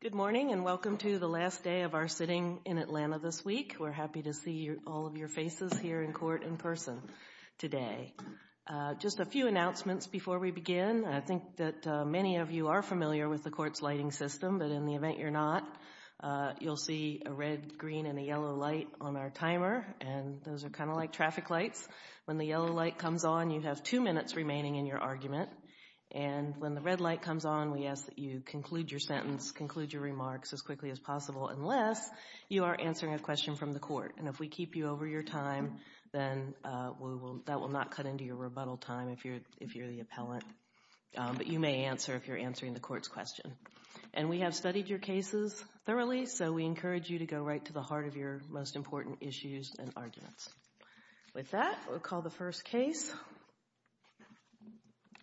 Good morning and welcome to the last day of our sitting in Atlanta this week. We're happy to see all of your faces here in court in person today. Just a few announcements before we begin. I think that many of you are familiar with the court's lighting system, but in the event you're not, you'll see a red, green, and a yellow light on our timer. And those are kind of like traffic lights. When the yellow light comes on, you have two minutes remaining in your argument. And when the red light comes on, we ask that you conclude your sentence, conclude your remarks as quickly as possible, unless you are answering a question from the court. And if we keep you over your time, then that will not cut into your rebuttal time if you're the appellant. But you may answer if you're answering the court's question. And we have studied your cases thoroughly, so we encourage you to go right to the heart of your most important issues and arguments. With that, we'll call the first case,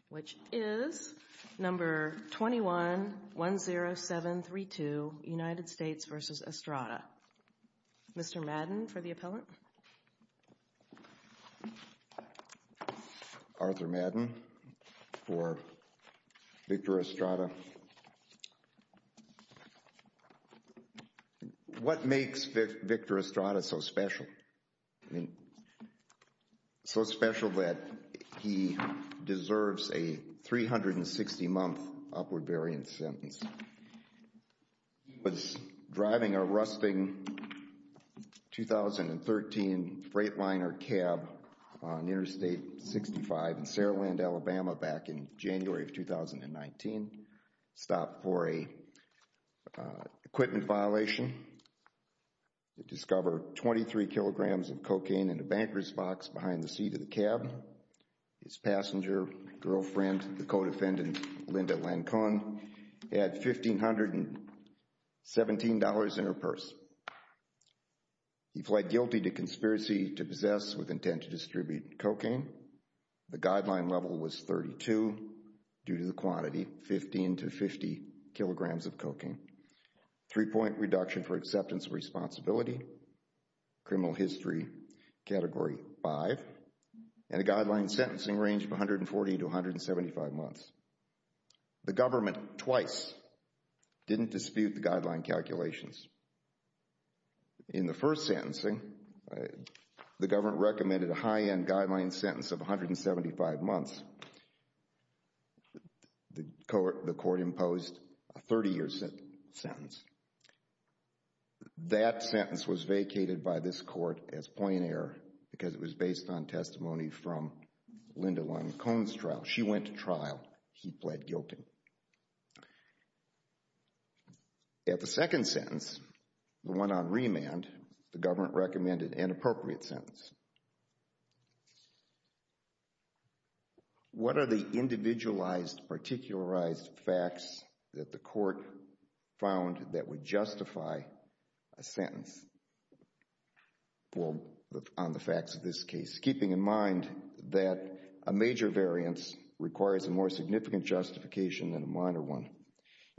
which is number 21-10732, United States v. Estrada. Mr. Madden for the appellant. Arthur Madden for Victor Estrada. What makes Victor Estrada so special? I mean, so special that he deserves a 360-month upward variance sentence. He was driving a rusting 2013 Freightliner cab on Interstate 65 in Sarah Land, Alabama, back in January of 2019. Stopped for a equipment violation. Discovered 23 kilograms of cocaine in a banker's box behind the seat of the cab. His passenger, girlfriend, the co-defendant, Linda Lancon, had $1,517 in her purse. He pled guilty to conspiracy to possess with intent to distribute cocaine. The guideline level was 32 due to the quantity, 15 to 50 kilograms of cocaine. Three-point reduction for acceptance of responsibility. Criminal history category 5. And a guideline sentencing range from 140 to 175 months. The government twice didn't dispute the guideline calculations. In the first sentencing, the government recommended a high-end guideline sentence of 175 months. The court imposed a 30-year sentence. That sentence was vacated by this court as plain error because it was based on testimony from Linda Lancon's trial. She went to trial. He pled guilty. At the second sentence, the one on remand, the government recommended an appropriate sentence. What are the individualized, particularized facts that the court found that would justify a sentence? Well, on the facts of this case, keeping in mind that a major variance requires a more significant justification than a minor one.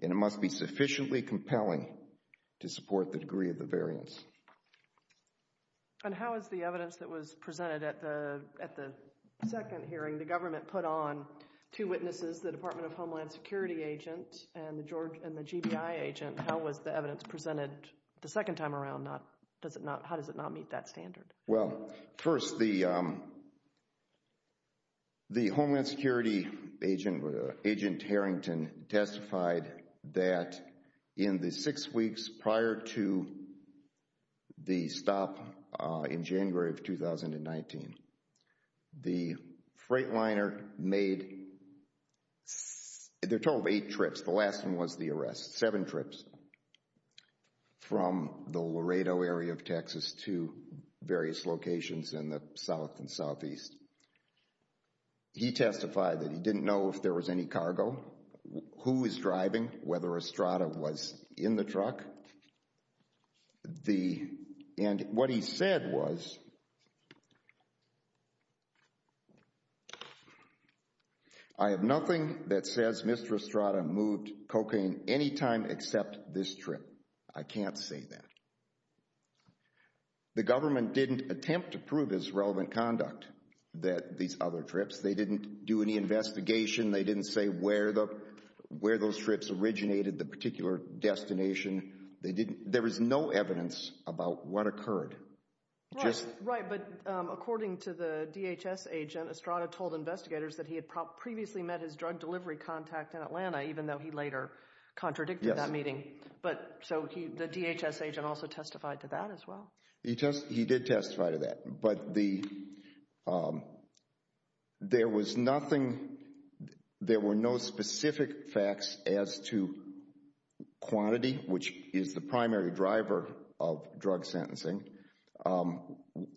And it must be sufficiently compelling to support the degree of the variance. And how is the evidence that was presented at the second hearing, the government put on two witnesses, the Department of Homeland Security agent and the GBI agent, how was the evidence presented the second time around? How does it not meet that standard? Well, first, the Homeland Security agent, Agent Harrington, testified that in the six weeks prior to the stop in January of 2019, the freight liner made a total of eight trips. The last one was the arrest, seven trips from the Laredo area of Texas to various locations in the south and southeast. He testified that he didn't know if there was any cargo, who was driving, whether Estrada was in the truck. And what he said was, I have nothing that says Mr. Estrada moved cocaine any time except this trip. I can't say that. The government didn't attempt to prove his relevant conduct, these other trips. They didn't do any investigation. They didn't say where those trips originated, the particular destination. There was no evidence about what occurred. Right, but according to the DHS agent, Estrada told investigators that he had previously met his drug delivery contact in Atlanta, even though he later contradicted that meeting. So the DHS agent also testified to that as well. He did testify to that. But there was nothing, there were no specific facts as to quantity, which is the primary driver of drug sentencing,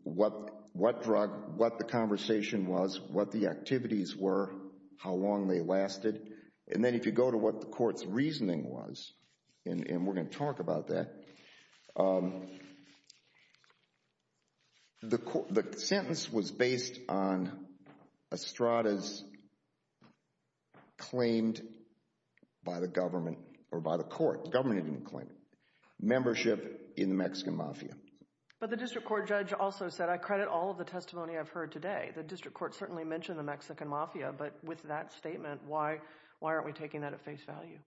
what drug, what the conversation was, what the activities were, how long they lasted. And then if you go to what the court's reasoning was, and we're going to talk about that, the sentence was based on Estrada's claimed by the government, or by the court, the government didn't claim it, membership in the Mexican Mafia. But the district court judge also said, I credit all of the testimony I've heard today. The district court certainly mentioned the Mexican Mafia, but with that statement, why aren't we taking that at face value?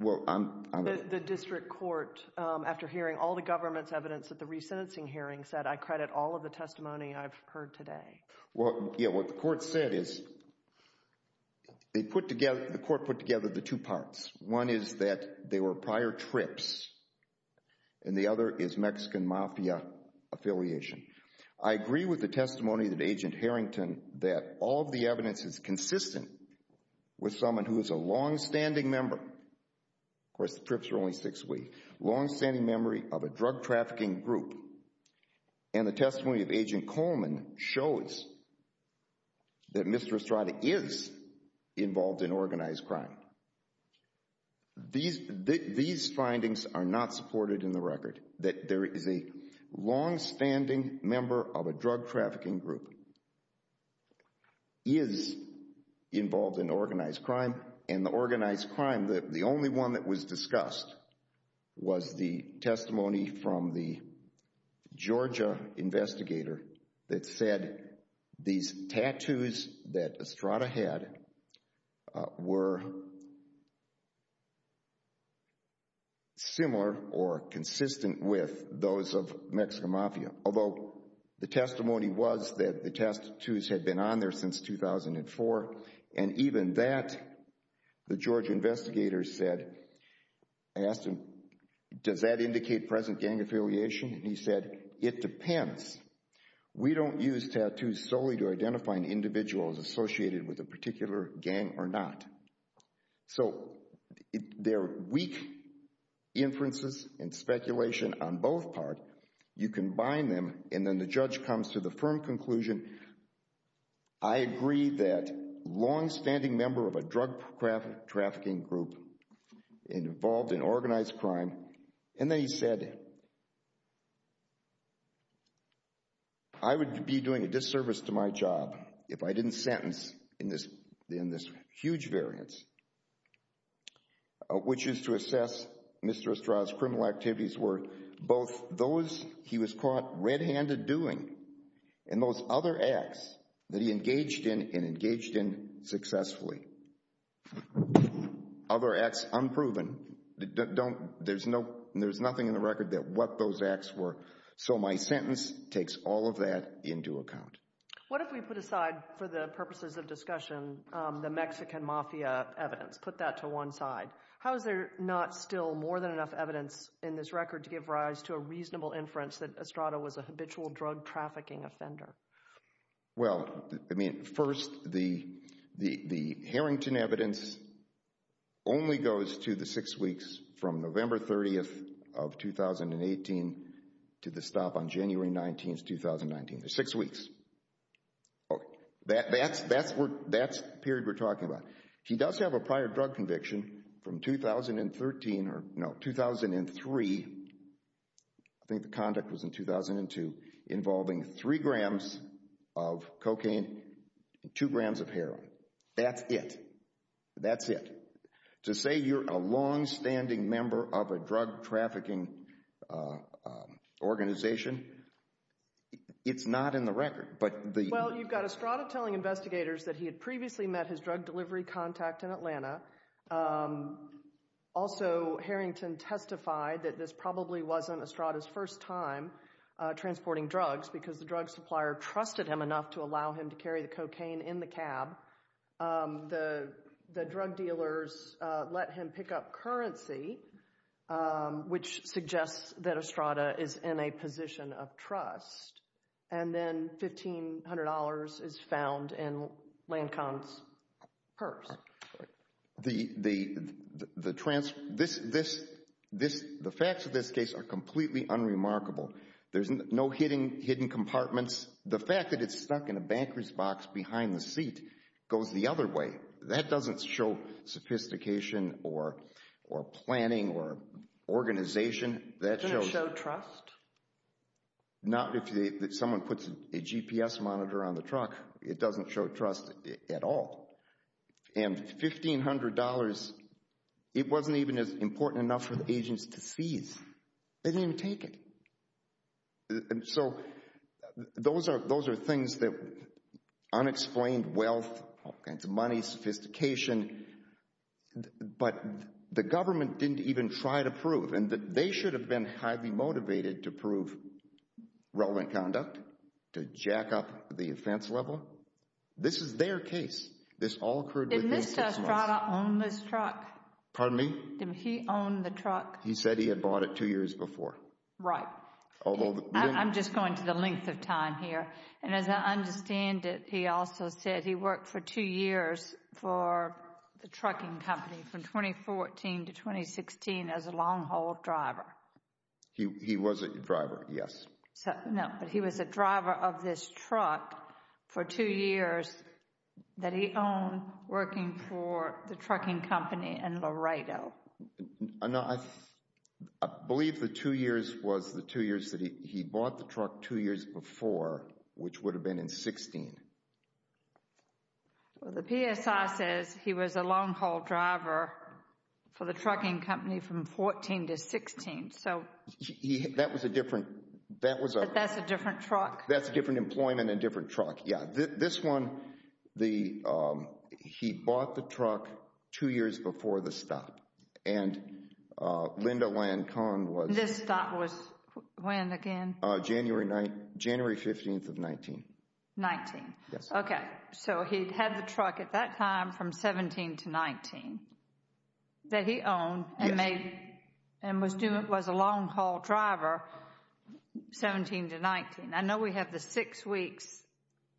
The district court, after hearing all the government's evidence at the resentencing hearing, said I credit all of the testimony I've heard today. Well, yeah, what the court said is, they put together, the court put together the two parts. One is that they were prior trips, and the other is Mexican Mafia affiliation. I agree with the testimony that Agent Harrington, that all of the evidence is consistent with someone who is a longstanding member. Of course, the trips were only six weeks. Longstanding memory of a drug trafficking group. And the testimony of Agent Coleman shows that Mr. Estrada is involved in organized crime. These findings are not supported in the record, that there is a longstanding member of a drug trafficking group is involved in organized crime. And the organized crime, the only one that was discussed, was the testimony from the Georgia investigator that said these tattoos that Estrada had were similar or consistent with those of Mexican Mafia. Although the testimony was that the tattoos had been on there since 2004, and even that the Georgia investigator said, I asked him, does that indicate present gang affiliation? And he said, it depends. We don't use tattoos solely to identify an individual as associated with a particular gang or not. So there are weak inferences and speculation on both parts. But you can bind them, and then the judge comes to the firm conclusion, I agree that longstanding member of a drug trafficking group involved in organized crime. And then he said, I would be doing a disservice to my job if I didn't sentence in this huge variance, which is to assess Mr. Estrada's criminal activities were both those he was caught red-handed doing and those other acts that he engaged in and engaged in successfully. Other acts unproven. There's nothing in the record that what those acts were. So my sentence takes all of that into account. What if we put aside, for the purposes of discussion, the Mexican Mafia evidence, put that to one side? How is there not still more than enough evidence in this record to give rise to a reasonable inference that Estrada was a habitual drug trafficking offender? Well, I mean, first, the Harrington evidence only goes to the six weeks from November 30th of 2018 to the stop on January 19th, 2019. There's six weeks. That's the period we're talking about. He does have a prior drug conviction from 2013, or no, 2003, I think the conduct was in 2002, involving three grams of cocaine and two grams of heroin. That's it. That's it. To say you're a longstanding member of a drug trafficking organization, it's not in the record. Well, you've got Estrada telling investigators that he had previously met his drug delivery contact in Atlanta. Also, Harrington testified that this probably wasn't Estrada's first time transporting drugs because the drug supplier trusted him enough to allow him to carry the cocaine in the cab. The drug dealers let him pick up currency, which suggests that Estrada is in a position of trust. And then $1,500 is found in Lancon's purse. The facts of this case are completely unremarkable. There's no hidden compartments. The fact that it's stuck in a banker's box behind the seat goes the other way. That doesn't show sophistication or planning or organization. Doesn't it show trust? Not if someone puts a GPS monitor on the truck. It doesn't show trust at all. And $1,500, it wasn't even important enough for the agents to seize. They didn't even take it. So those are things that unexplained wealth, all kinds of money, sophistication, but the government didn't even try to prove. And they should have been highly motivated to prove relevant conduct, to jack up the offense level. This is their case. This all occurred within six months. Did Mr. Estrada own this truck? Pardon me? Did he own the truck? He said he had bought it two years before. Right. I'm just going to the length of time here. And as I understand it, he also said he worked for two years for the trucking company from 2014 to 2016 as a long-haul driver. He was a driver, yes. No, but he was a driver of this truck for two years that he owned working for the trucking company in Laredo. No, I believe the two years was the two years that he bought the truck two years before, which would have been in 16. Well, the PSI says he was a long-haul driver for the trucking company from 14 to 16. That was a different— But that's a different truck. That's a different employment and a different truck, yes. This one, he bought the truck two years before the stop. And Linda Lancon was— This stop was when again? January 15th of 19. 19. Yes. Okay. So he had the truck at that time from 17 to 19 that he owned and made— Yes. —and was a long-haul driver 17 to 19. I know we have the six weeks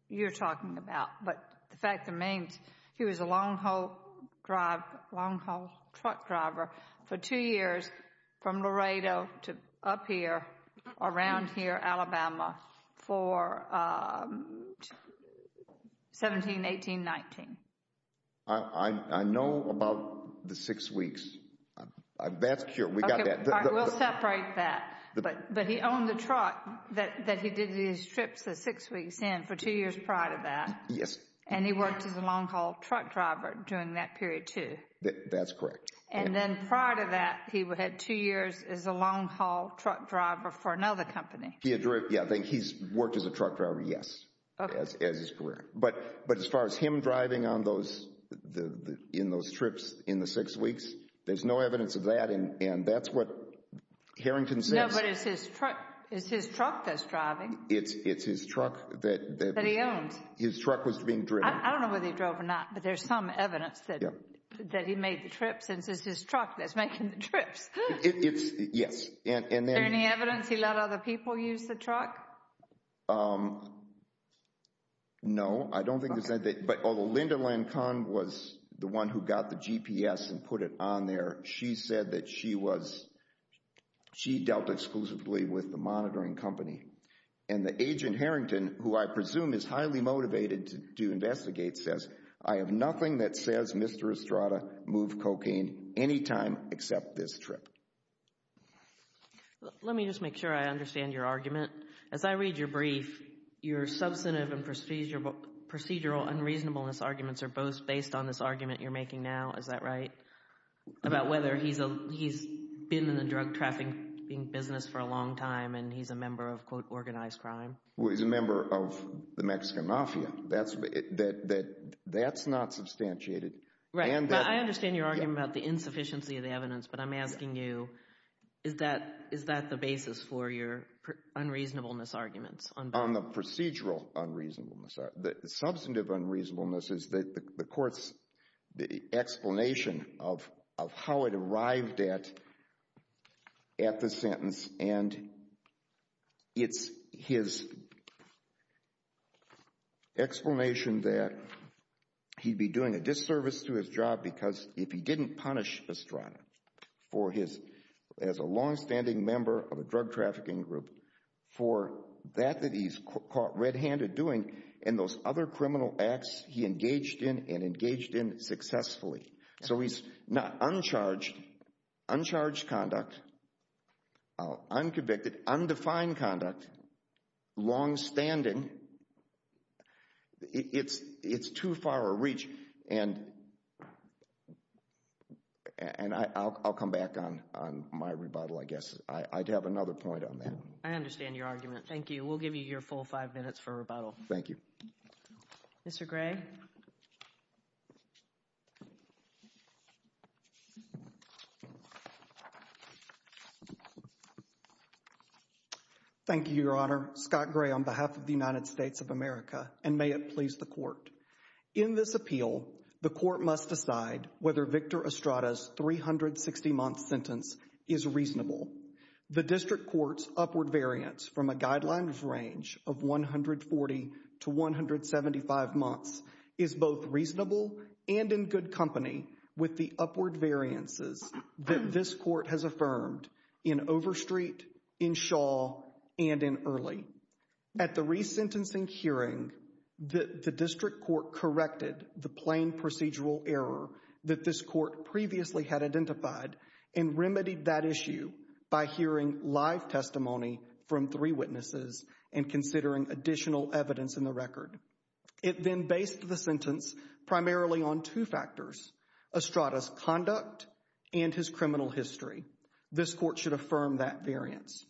you're talking about, but the fact remains he was a long-haul truck driver for two years from Laredo to up here, around here, Alabama for 17, 18, 19. I know about the six weeks. That's cure. We got that. We'll separate that. But he owned the truck that he did his trips the six weeks in for two years prior to that. Yes. And he worked as a long-haul truck driver during that period, too. That's correct. And then prior to that, he had two years as a long-haul truck driver for another company. Yes, I think he's worked as a truck driver, yes, as his career. But as far as him driving on those—in those trips in the six weeks, there's no evidence of that, and that's what Harrington says— No, but it's his truck that's driving. It's his truck that— That he owns. His truck was being driven. I don't know whether he drove or not, but there's some evidence that he made the trips, and it's his truck that's making the trips. It's—yes, and then— Is there any evidence he let other people use the truck? No, I don't think he said that. But although Linda Lincoln was the one who got the GPS and put it on there, she said that she was—she dealt exclusively with the monitoring company. And the agent Harrington, who I presume is highly motivated to investigate, says, I have nothing that says Mr. Estrada moved cocaine any time except this trip. Let me just make sure I understand your argument. As I read your brief, your substantive and procedural unreasonableness arguments are both based on this argument you're making now, is that right? About whether he's been in the drug trafficking business for a long time and he's a member of, quote, organized crime. Well, he's a member of the Mexican mafia. That's not substantiated. Right, but I understand your argument about the insufficiency of the evidence, but I'm asking you, is that the basis for your unreasonableness arguments? On the procedural unreasonableness. The substantive unreasonableness is the court's explanation of how it arrived at the sentence and it's his explanation that he'd be doing a disservice to his job because if he didn't punish Estrada for his—as a longstanding member of a drug trafficking group for that that he's caught red-handed doing and those other criminal acts he engaged in and engaged in successfully. So he's not—uncharged conduct, unconvicted, undefined conduct, longstanding, it's too far a reach. And I'll come back on my rebuttal, I guess. I'd have another point on that. I understand your argument. Thank you. We'll give you your full five minutes for rebuttal. Thank you. Mr. Gray. Thank you, Your Honor. Scott Gray on behalf of the United States of America and may it please the court. In this appeal, the court must decide whether Victor Estrada's 360-month sentence is reasonable. The district court's upward variance from a guidelines range of 140 to 175 months is both reasonable and in good company with the upward variances that this court has affirmed in Overstreet, in Shaw, and in Early. At the resentencing hearing, the district court corrected the plain procedural error that this court previously had identified and remedied that issue by hearing live testimony from three witnesses and considering additional evidence in the record. It then based the sentence primarily on two factors, Estrada's conduct and his criminal history. This court should affirm that variance.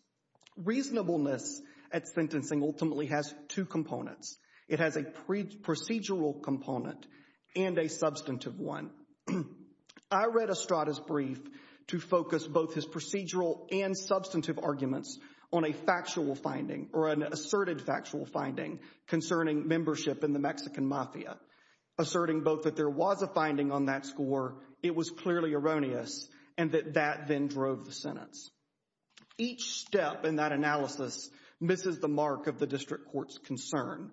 Reasonableness at sentencing ultimately has two components. It has a procedural component and a substantive one. I read Estrada's brief to focus both his procedural and substantive arguments on a factual finding or an asserted factual finding concerning membership in the Mexican mafia, asserting both that there was a finding on that score, it was clearly erroneous, and that that then drove the sentence. Each step in that analysis misses the mark of the district court's concern.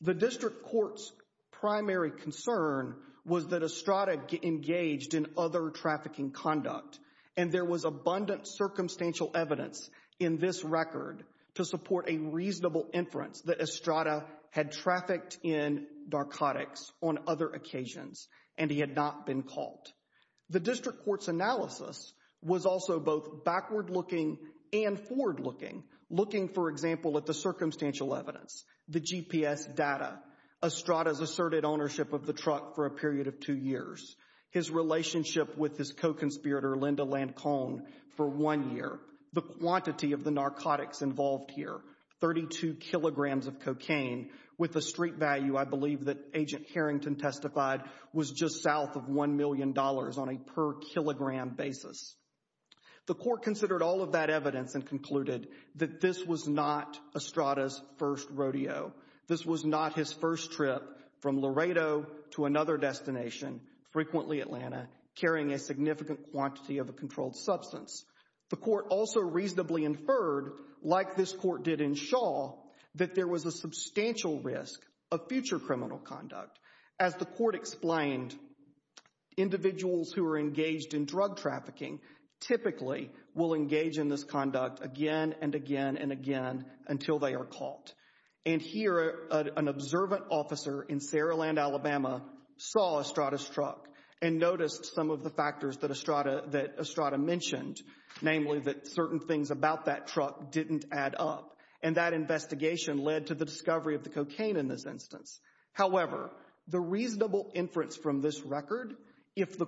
The district court's primary concern was that Estrada engaged in other trafficking conduct, and there was abundant circumstantial evidence in this record to support a reasonable inference that Estrada had trafficked in narcotics on other occasions and he had not been caught. The district court's analysis was also both backward-looking and forward-looking, looking, for example, at the circumstantial evidence, the GPS data, Estrada's asserted ownership of the truck for a period of two years, his relationship with his co-conspirator Linda Lancon for one year, the quantity of the narcotics involved here, 32 kilograms of cocaine, with a street value I believe that Agent Harrington testified was just south of $1 million on a per-kilogram basis. The court considered all of that evidence and concluded that this was not Estrada's first rodeo. This was not his first trip from Laredo to another destination, frequently Atlanta, carrying a significant quantity of a controlled substance. The court also reasonably inferred, like this court did in Shaw, that there was a substantial risk of future criminal conduct. As the court explained, individuals who are engaged in drug trafficking typically will engage in this conduct again and again and again until they are caught. And here an observant officer in Sarah Land, Alabama, saw Estrada's truck and noticed some of the factors that Estrada mentioned, namely that certain things about that truck didn't add up and that investigation led to the discovery of the cocaine in this instance. However, the reasonable inference from this record, if the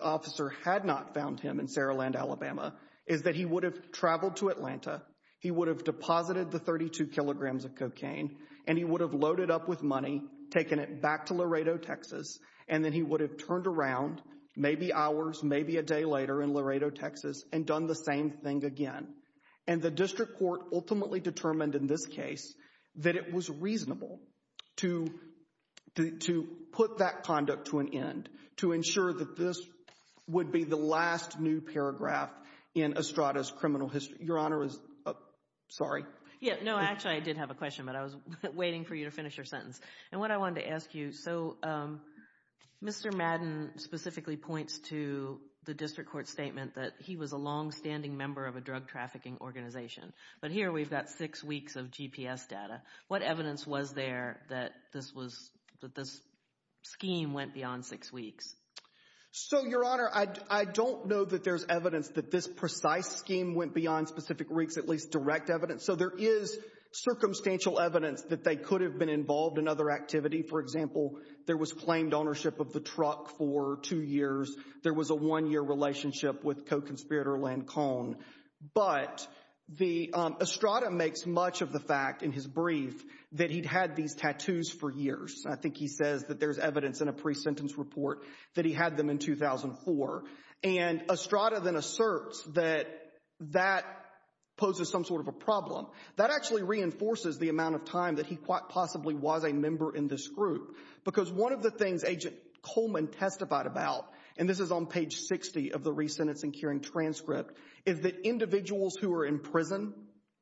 officer had not found him in Sarah Land, Alabama, is that he would have traveled to Atlanta, he would have deposited the 32 kilograms of cocaine, and he would have loaded up with money, taken it back to Laredo, Texas, and then he would have turned around, maybe hours, maybe a day later in Laredo, Texas, and done the same thing again. And the district court ultimately determined, in this case, that it was reasonable to put that conduct to an end, to ensure that this would be the last new paragraph in Estrada's criminal history. Your Honor, sorry. No, actually I did have a question, but I was waiting for you to finish your sentence. And what I wanted to ask you, so Mr. Madden specifically points to the district court's statement that he was a longstanding member of a drug trafficking organization. But here we've got six weeks of GPS data. What evidence was there that this scheme went beyond six weeks? So, Your Honor, I don't know that there's evidence that this precise scheme went beyond specific weeks, at least direct evidence. So there is circumstantial evidence that they could have been involved in other activity. For example, there was claimed ownership of the truck for two years. There was a one-year relationship with co-conspirator Len Cohn. But Estrada makes much of the fact in his brief that he'd had these tattoos for years. I think he says that there's evidence in a pre-sentence report that he had them in 2004. And Estrada then asserts that that poses some sort of a problem. That actually reinforces the amount of time that he quite possibly was a member in this group. Because one of the things Agent Coleman testified about, and this is on page 60 of the re-sentencing hearing transcript, is that individuals who are in prison,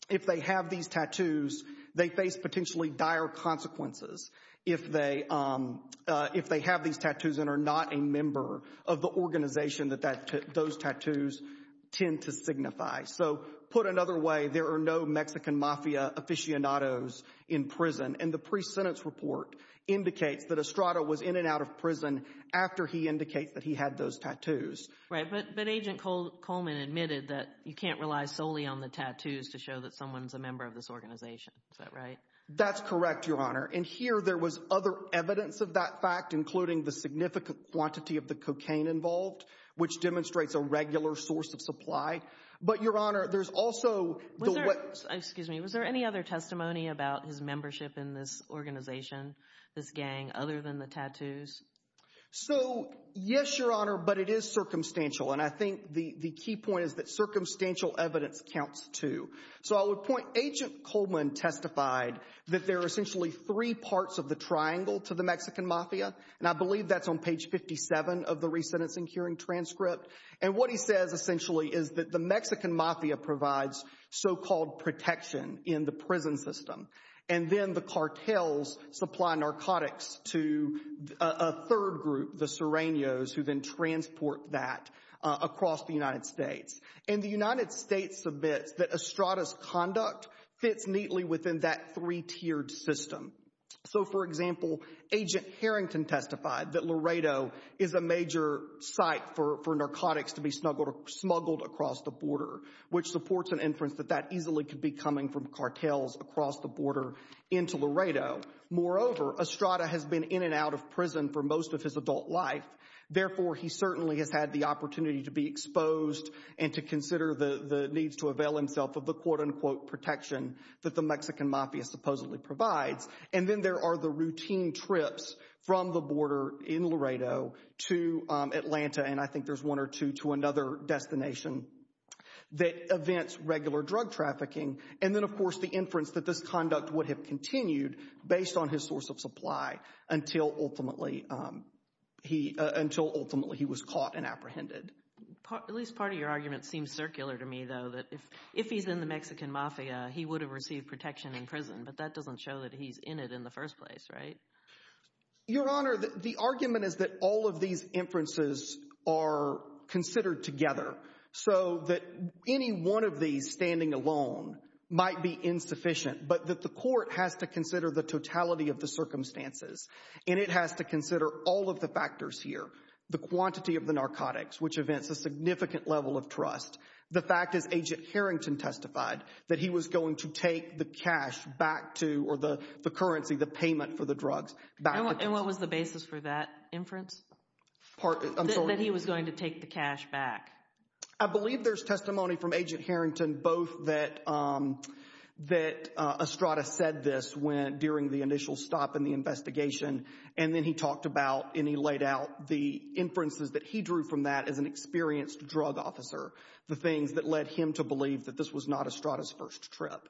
if they have these tattoos, they face potentially dire consequences if they have these tattoos and are not a member of the organization that those tattoos tend to signify. So put another way, there are no Mexican mafia aficionados in prison. And the pre-sentence report indicates that Estrada was in and out of prison after he indicates that he had those tattoos. Right, but Agent Coleman admitted that you can't rely solely on the tattoos to show that someone's a member of this organization. Is that right? That's correct, Your Honor. And here there was other evidence of that fact, including the significant quantity of the cocaine involved, which demonstrates a regular source of supply. But, Your Honor, there's also— Excuse me, was there any other testimony about his membership in this organization, this gang, other than the tattoos? So, yes, Your Honor, but it is circumstantial. And I think the key point is that circumstantial evidence counts too. So I would point, Agent Coleman testified that there are essentially three parts of the triangle to the Mexican mafia, and I believe that's on page 57 of the re-sentencing hearing transcript. And what he says essentially is that the Mexican mafia provides so-called protection in the prison system, and then the cartels supply narcotics to a third group, the Sereños, who then transport that across the United States. And the United States submits that Estrada's conduct fits neatly within that three-tiered system. So, for example, Agent Harrington testified that Laredo is a major site for narcotics to be smuggled across the border, which supports an inference that that easily could be coming from cartels across the border into Laredo. Moreover, Estrada has been in and out of prison for most of his adult life. Therefore, he certainly has had the opportunity to be exposed and to consider the needs to avail himself of the, quote-unquote, protection that the Mexican mafia supposedly provides. And then there are the routine trips from the border in Laredo to Atlanta, and I think there's one or two to another destination that events regular drug trafficking. And then, of course, the inference that this conduct would have continued based on his source of supply until ultimately he was caught and apprehended. At least part of your argument seems circular to me, though, that if he's in the Mexican mafia, he would have received protection in prison, but that doesn't show that he's in it in the first place, right? Your Honor, the argument is that all of these inferences are considered together so that any one of these standing alone might be insufficient, but that the court has to consider the totality of the circumstances, and it has to consider all of the factors here. The quantity of the narcotics, which events a significant level of trust. The fact, as Agent Harrington testified, that he was going to take the cash back to or the currency, the payment for the drugs. And what was the basis for that inference? That he was going to take the cash back. I believe there's testimony from Agent Harrington both that Estrada said this during the initial stop in the investigation, and then he talked about and he laid out the inferences that he drew from that as an experienced drug officer, the things that led him to believe that this was not Estrada's first trip.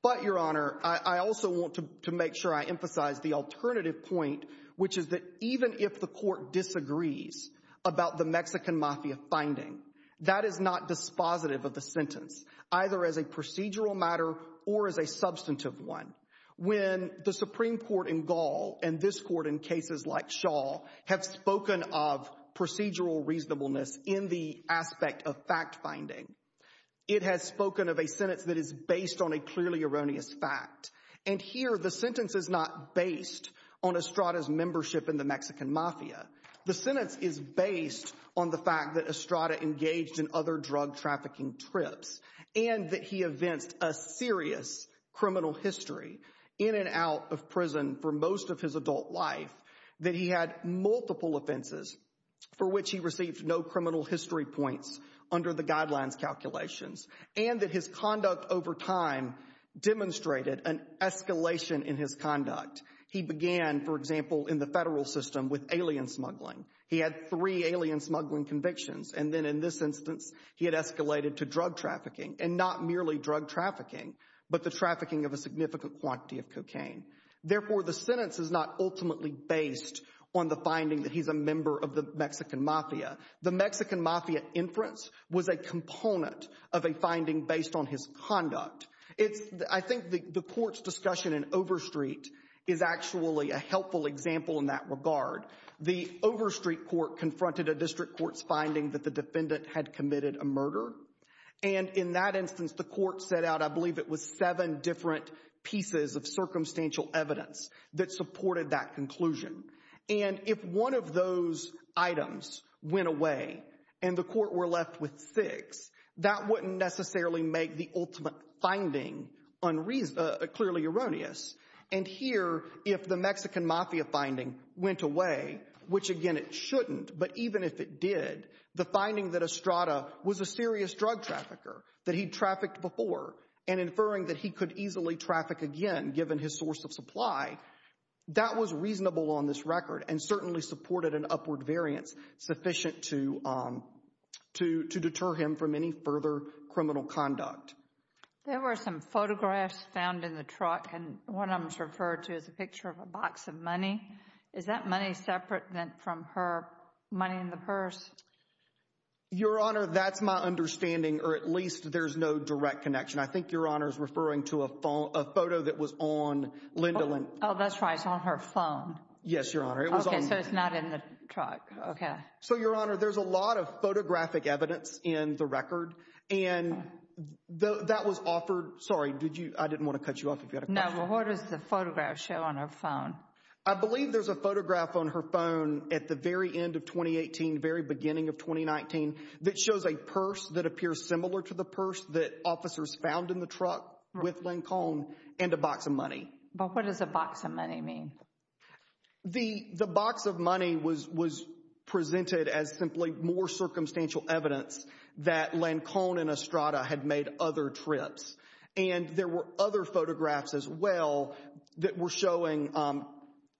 But, Your Honor, I also want to make sure I emphasize the alternative point, which is that even if the court disagrees about the Mexican Mafia finding, that is not dispositive of the sentence, either as a procedural matter or as a substantive one. When the Supreme Court in Gaul and this court in cases like Shaw have spoken of procedural reasonableness in the aspect of fact-finding, it has spoken of a sentence that is based on a clearly erroneous fact. And here, the sentence is not based on Estrada's membership in the Mexican Mafia. The sentence is based on the fact that Estrada engaged in other drug trafficking trips and that he evinced a serious criminal history in and out of prison for most of his adult life, that he had multiple offenses for which he received no criminal history points under the guidelines calculations, and that his conduct over time demonstrated an escalation in his conduct. He began, for example, in the federal system with alien smuggling. He had three alien smuggling convictions, and then in this instance, he had escalated to drug trafficking, and not merely drug trafficking, but the trafficking of a significant quantity of cocaine. Therefore, the sentence is not ultimately based on the finding that he's a member of the Mexican Mafia. The Mexican Mafia inference was a component of a finding based on his conduct. I think the court's discussion in Overstreet is actually a helpful example in that regard. The Overstreet court confronted a district court's finding that the defendant had committed a murder, and in that instance, the court set out, I believe it was seven different pieces of circumstantial evidence that supported that conclusion. And if one of those items went away and the court were left with six, that wouldn't necessarily make the ultimate finding clearly erroneous. And here, if the Mexican Mafia finding went away, which, again, it shouldn't, but even if it did, the finding that Estrada was a serious drug trafficker, that he trafficked before, and inferring that he could easily traffic again, given his source of supply, that was reasonable on this record and certainly supported an upward variance sufficient to deter him from any further criminal conduct. There were some photographs found in the truck, and one of them is referred to as a picture of a box of money. Is that money separate from her money in the purse? Your Honor, that's my understanding, or at least there's no direct connection. I think Your Honor's referring to a photo that was on Linda Lynn. Oh, that's right. It's on her phone. Yes, Your Honor. Okay, so it's not in the truck. Okay. So, Your Honor, there's a lot of photographic evidence in the record, and that was offered—sorry, I didn't want to cut you off if you had a question. No, well, what does the photograph show on her phone? I believe there's a photograph on her phone at the very end of 2018, very beginning of 2019, that shows a purse that appears similar to the purse that officers found in the truck with Lincoln and a box of money. But what does a box of money mean? The box of money was presented as simply more circumstantial evidence that Lincoln and Estrada had made other trips, and there were other photographs as well that were showing,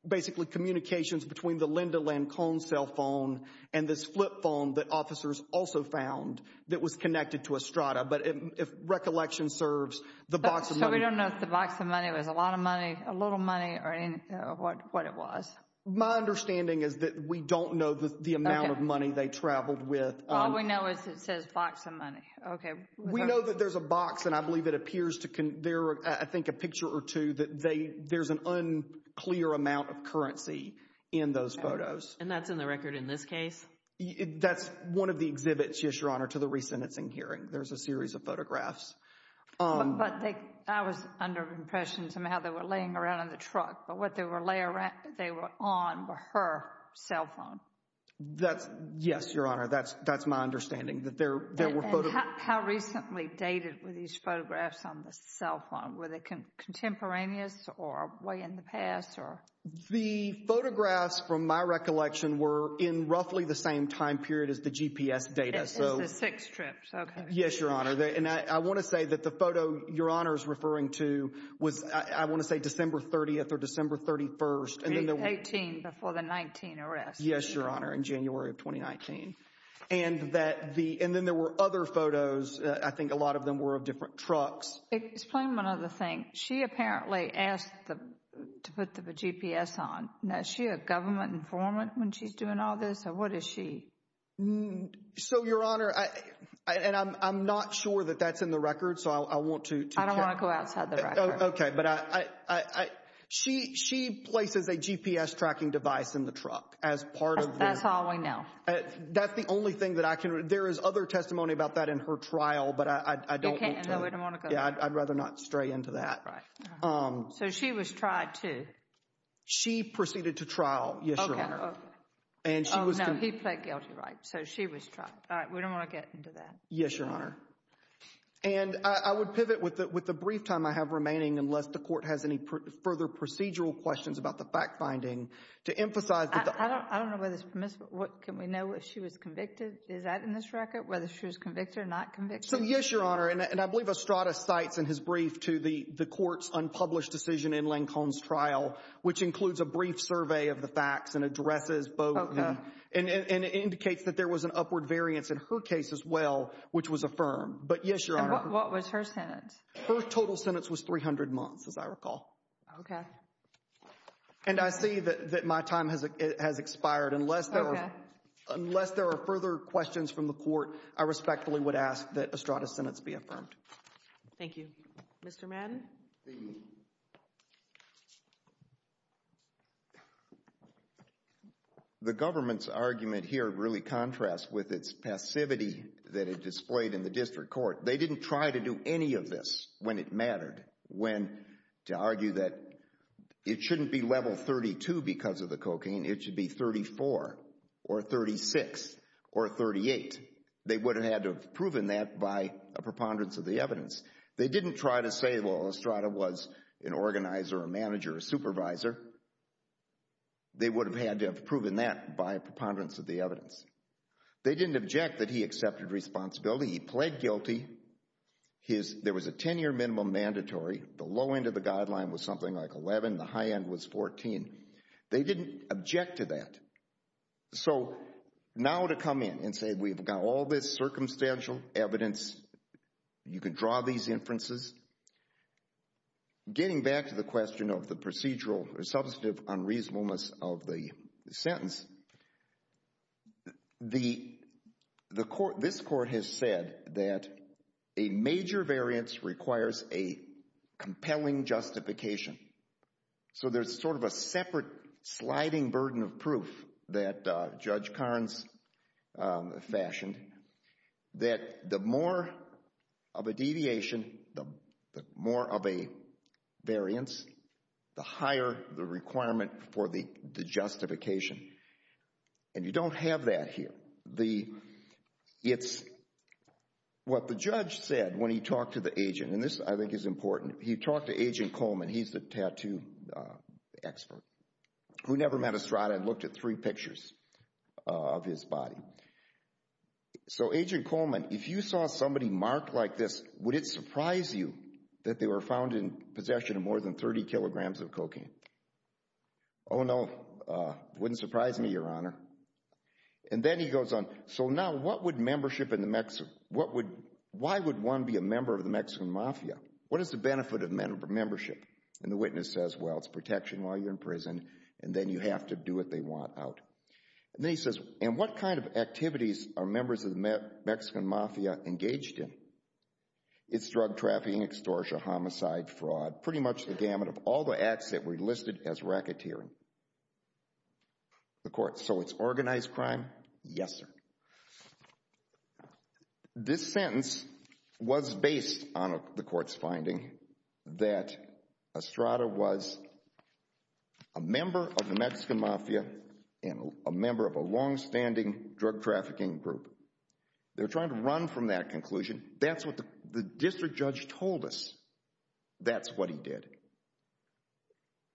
basically, communications between the Linda Lynn cone cell phone and this flip phone that officers also found that was connected to Estrada. But if recollection serves, the box of money— So we don't know if the box of money was a lot of money, a little money, or what it was? My understanding is that we don't know the amount of money they traveled with. All we know is it says box of money. Okay. We know that there's a box, and I believe it appears to—there are, I think, a picture or two that there's an unclear amount of currency in those photos. And that's in the record in this case? That's one of the exhibits, yes, Your Honor, to the resentencing hearing. There's a series of photographs. But I was under the impression somehow they were laying around in the truck, but what they were on were her cell phone. That's—yes, Your Honor, that's my understanding. And how recently dated were these photographs on the cell phone? Were they contemporaneous or way in the past? The photographs, from my recollection, were in roughly the same time period as the GPS data. It's the six trips. Okay. Yes, Your Honor. And I want to say that the photo Your Honor is referring to was, I want to say, December 30th or December 31st. 18 before the 19 arrests. Yes, Your Honor, in January of 2019. And that the—and then there were other photos. I think a lot of them were of different trucks. Explain one other thing. She apparently asked to put the GPS on. Is she a government informant when she's doing all this, or what is she? So, Your Honor, and I'm not sure that that's in the record, so I want to— I don't want to go outside the record. Okay, but I—she places a GPS tracking device in the truck as part of the— That's all we know. That's the only thing that I can—there is other testimony about that in her trial, but I don't want to— You can't—no, we don't want to go there. Yeah, I'd rather not stray into that. Right. So she was tried, too? She proceeded to trial, yes, Your Honor. Okay, okay. And she was— Oh, no, he pled guilty, right, so she was tried. All right, we don't want to get into that. Yes, Your Honor. And I would pivot with the brief time I have remaining, unless the court has any further procedural questions about the fact-finding, to emphasize that the— I don't know whether it's permissible—can we know if she was convicted? Is that in this record, whether she was convicted or not convicted? So, yes, Your Honor, and I believe Estrada cites in his brief to the court's unpublished decision in Lincoln's trial, which includes a brief survey of the facts and addresses both— Okay. And it indicates that there was an upward variance in her case as well, which was affirmed. But, yes, Your Honor— And what was her sentence? Her total sentence was 300 months, as I recall. Okay. And I see that my time has expired. Okay. Unless there are further questions from the court, I respectfully would ask that Estrada's sentence be affirmed. Thank you. Mr. Madden? The government's argument here really contrasts with its passivity that it displayed in the district court. They didn't try to do any of this when it mattered, when—to argue that it shouldn't be level 32 because of the cocaine. It should be 34 or 36 or 38. They would have had to have proven that by a preponderance of the evidence. They didn't try to say, well, Estrada was an organizer, a manager, a supervisor. They would have had to have proven that by a preponderance of the evidence. They didn't object that he accepted responsibility. He pled guilty. There was a 10-year minimum mandatory. The low end of the guideline was something like 11. The high end was 14. They didn't object to that. So, now to come in and say we've got all this circumstantial evidence. You can draw these inferences. Getting back to the question of the procedural or substantive unreasonableness of the sentence, this court has said that a major variance requires a compelling justification. So, there's sort of a separate sliding burden of proof that Judge Carnes fashioned that the more of a deviation, the more of a variance, the higher the requirement for the justification. And you don't have that here. It's what the judge said when he talked to the agent. And this, I think, is important. He talked to Agent Coleman. He's the tattoo expert who never met Estrada and looked at three pictures of his body. So, Agent Coleman, if you saw somebody marked like this, would it surprise you that they were found in possession of more than 30 kilograms of cocaine? Oh, no. It wouldn't surprise me, Your Honor. And then he goes on. So, now, what would membership in the – why would one be a member of the Mexican Mafia? What is the benefit of membership? And the witness says, well, it's protection while you're in prison, and then you have to do what they want out. And then he says, and what kind of activities are members of the Mexican Mafia engaged in? It's drug trafficking, extortion, homicide, fraud, pretty much the gamut of all the acts that were listed as racketeering. The court, so it's organized crime? Yes, sir. This sentence was based on the court's finding that Estrada was a member of the Mexican Mafia and a member of a longstanding drug trafficking group. They're trying to run from that conclusion. That's what the district judge told us. That's what he did.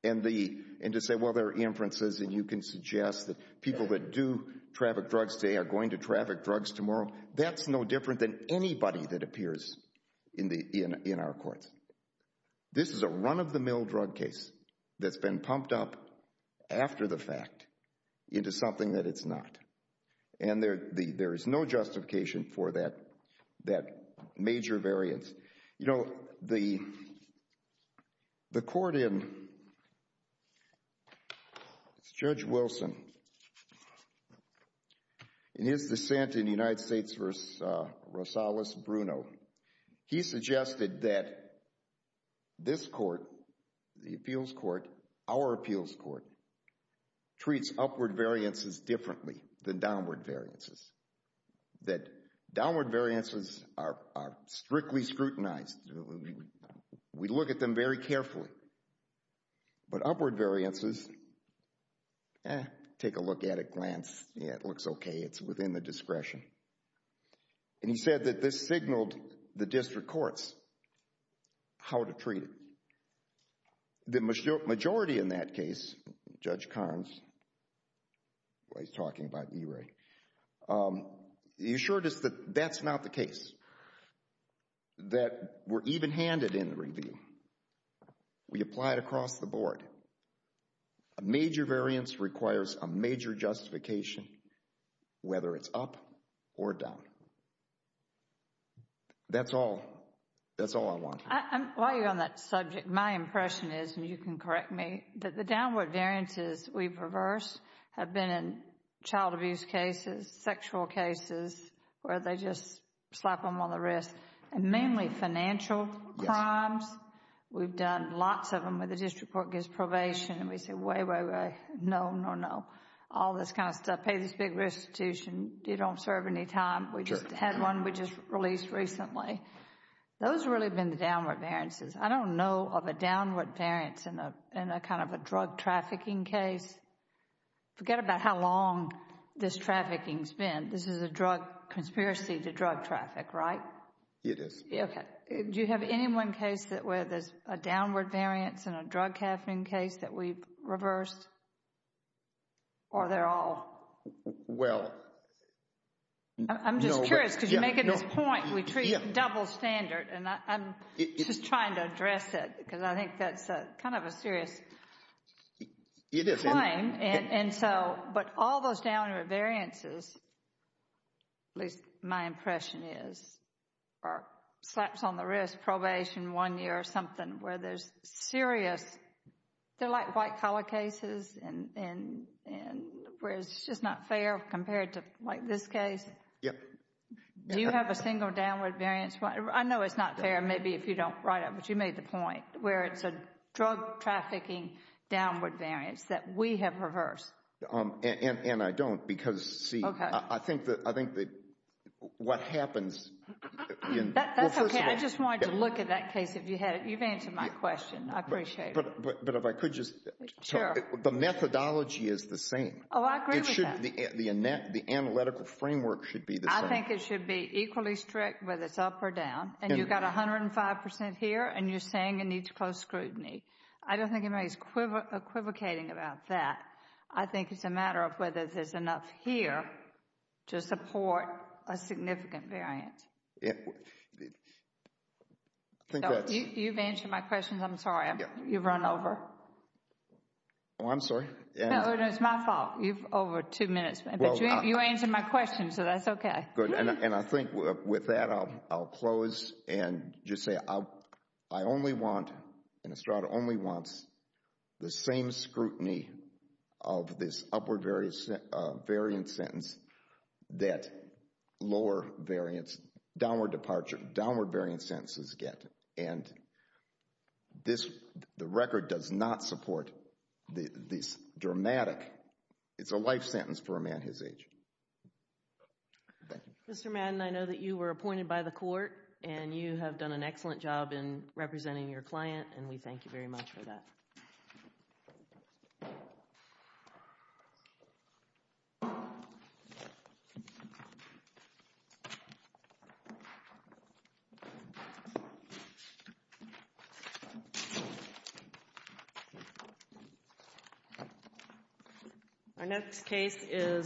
And to say, well, there are inferences, and you can suggest that people that do traffic drugs today are going to traffic drugs tomorrow, that's no different than anybody that appears in our courts. This is a run-of-the-mill drug case that's been pumped up after the fact into something that it's not. And there is no justification for that major variance. You know, the court in Judge Wilson, in his dissent in the United States versus Rosales-Bruno, he suggested that this court, the appeals court, our appeals court, treats upward variances differently than downward variances, that downward variances are strictly scrutinized. We look at them very carefully. But upward variances, eh, take a look at it, glance, yeah, it looks okay. It's within the discretion. And he said that this signaled the district courts how to treat it. The majority in that case, Judge Carnes, he's talking about E-rate, he assured us that that's not the case, that we're even-handed in the review. We apply it across the board. A major variance requires a major justification, whether it's up or down. That's all, that's all I want. While you're on that subject, my impression is, and you can correct me, that the downward variances we've reversed have been in child abuse cases, sexual cases where they just slap them on the wrist, and mainly financial crimes. We've done lots of them where the district court gives probation and we say, wait, wait, wait, no, no, no, all this kind of stuff, pay this big restitution, you don't serve any time. We just had one we just released recently. Those have really been the downward variances. I don't know of a downward variance in a kind of a drug trafficking case. Forget about how long this trafficking has been. This is a drug conspiracy to drug traffic, right? It is. Okay. Do you have any one case where there's a downward variance in a drug trafficking case that we've reversed? Or they're all? Well, no. I'm curious because you're making this point, we treat double standard, and I'm just trying to address it because I think that's kind of a serious claim. It is. And so, but all those downward variances, at least my impression is, are slaps on the wrist, probation, one year or something, where there's serious, they're like white collar cases and where it's just not fair compared to like this case. Yep. Do you have a single downward variance? I know it's not fair maybe if you don't write it, but you made the point, where it's a drug trafficking downward variance that we have reversed. And I don't because, see, I think that what happens. That's okay. I just wanted to look at that case. You've answered my question. I appreciate it. But if I could just, the methodology is the same. Oh, I agree with that. The analytical framework should be the same. I think it should be equally strict whether it's up or down. And you've got 105% here, and you're saying it needs close scrutiny. I don't think anybody's equivocating about that. I think it's a matter of whether there's enough here to support a significant variance. I think that's. You've answered my question. I'm sorry. You've run over. Oh, I'm sorry. No, no, it's my fault. You've over two minutes. But you answered my question, so that's okay. Good. And I think with that, I'll close and just say I only want, and Estrada only wants the same scrutiny of this upward variance sentence that lower variance, downward variance sentences get. And the record does not support this dramatic. It's a life sentence for a man his age. Thank you. Mr. Madden, I know that you were appointed by the court, and you have done an excellent job in representing your client, and we thank you very much for that. Thank you.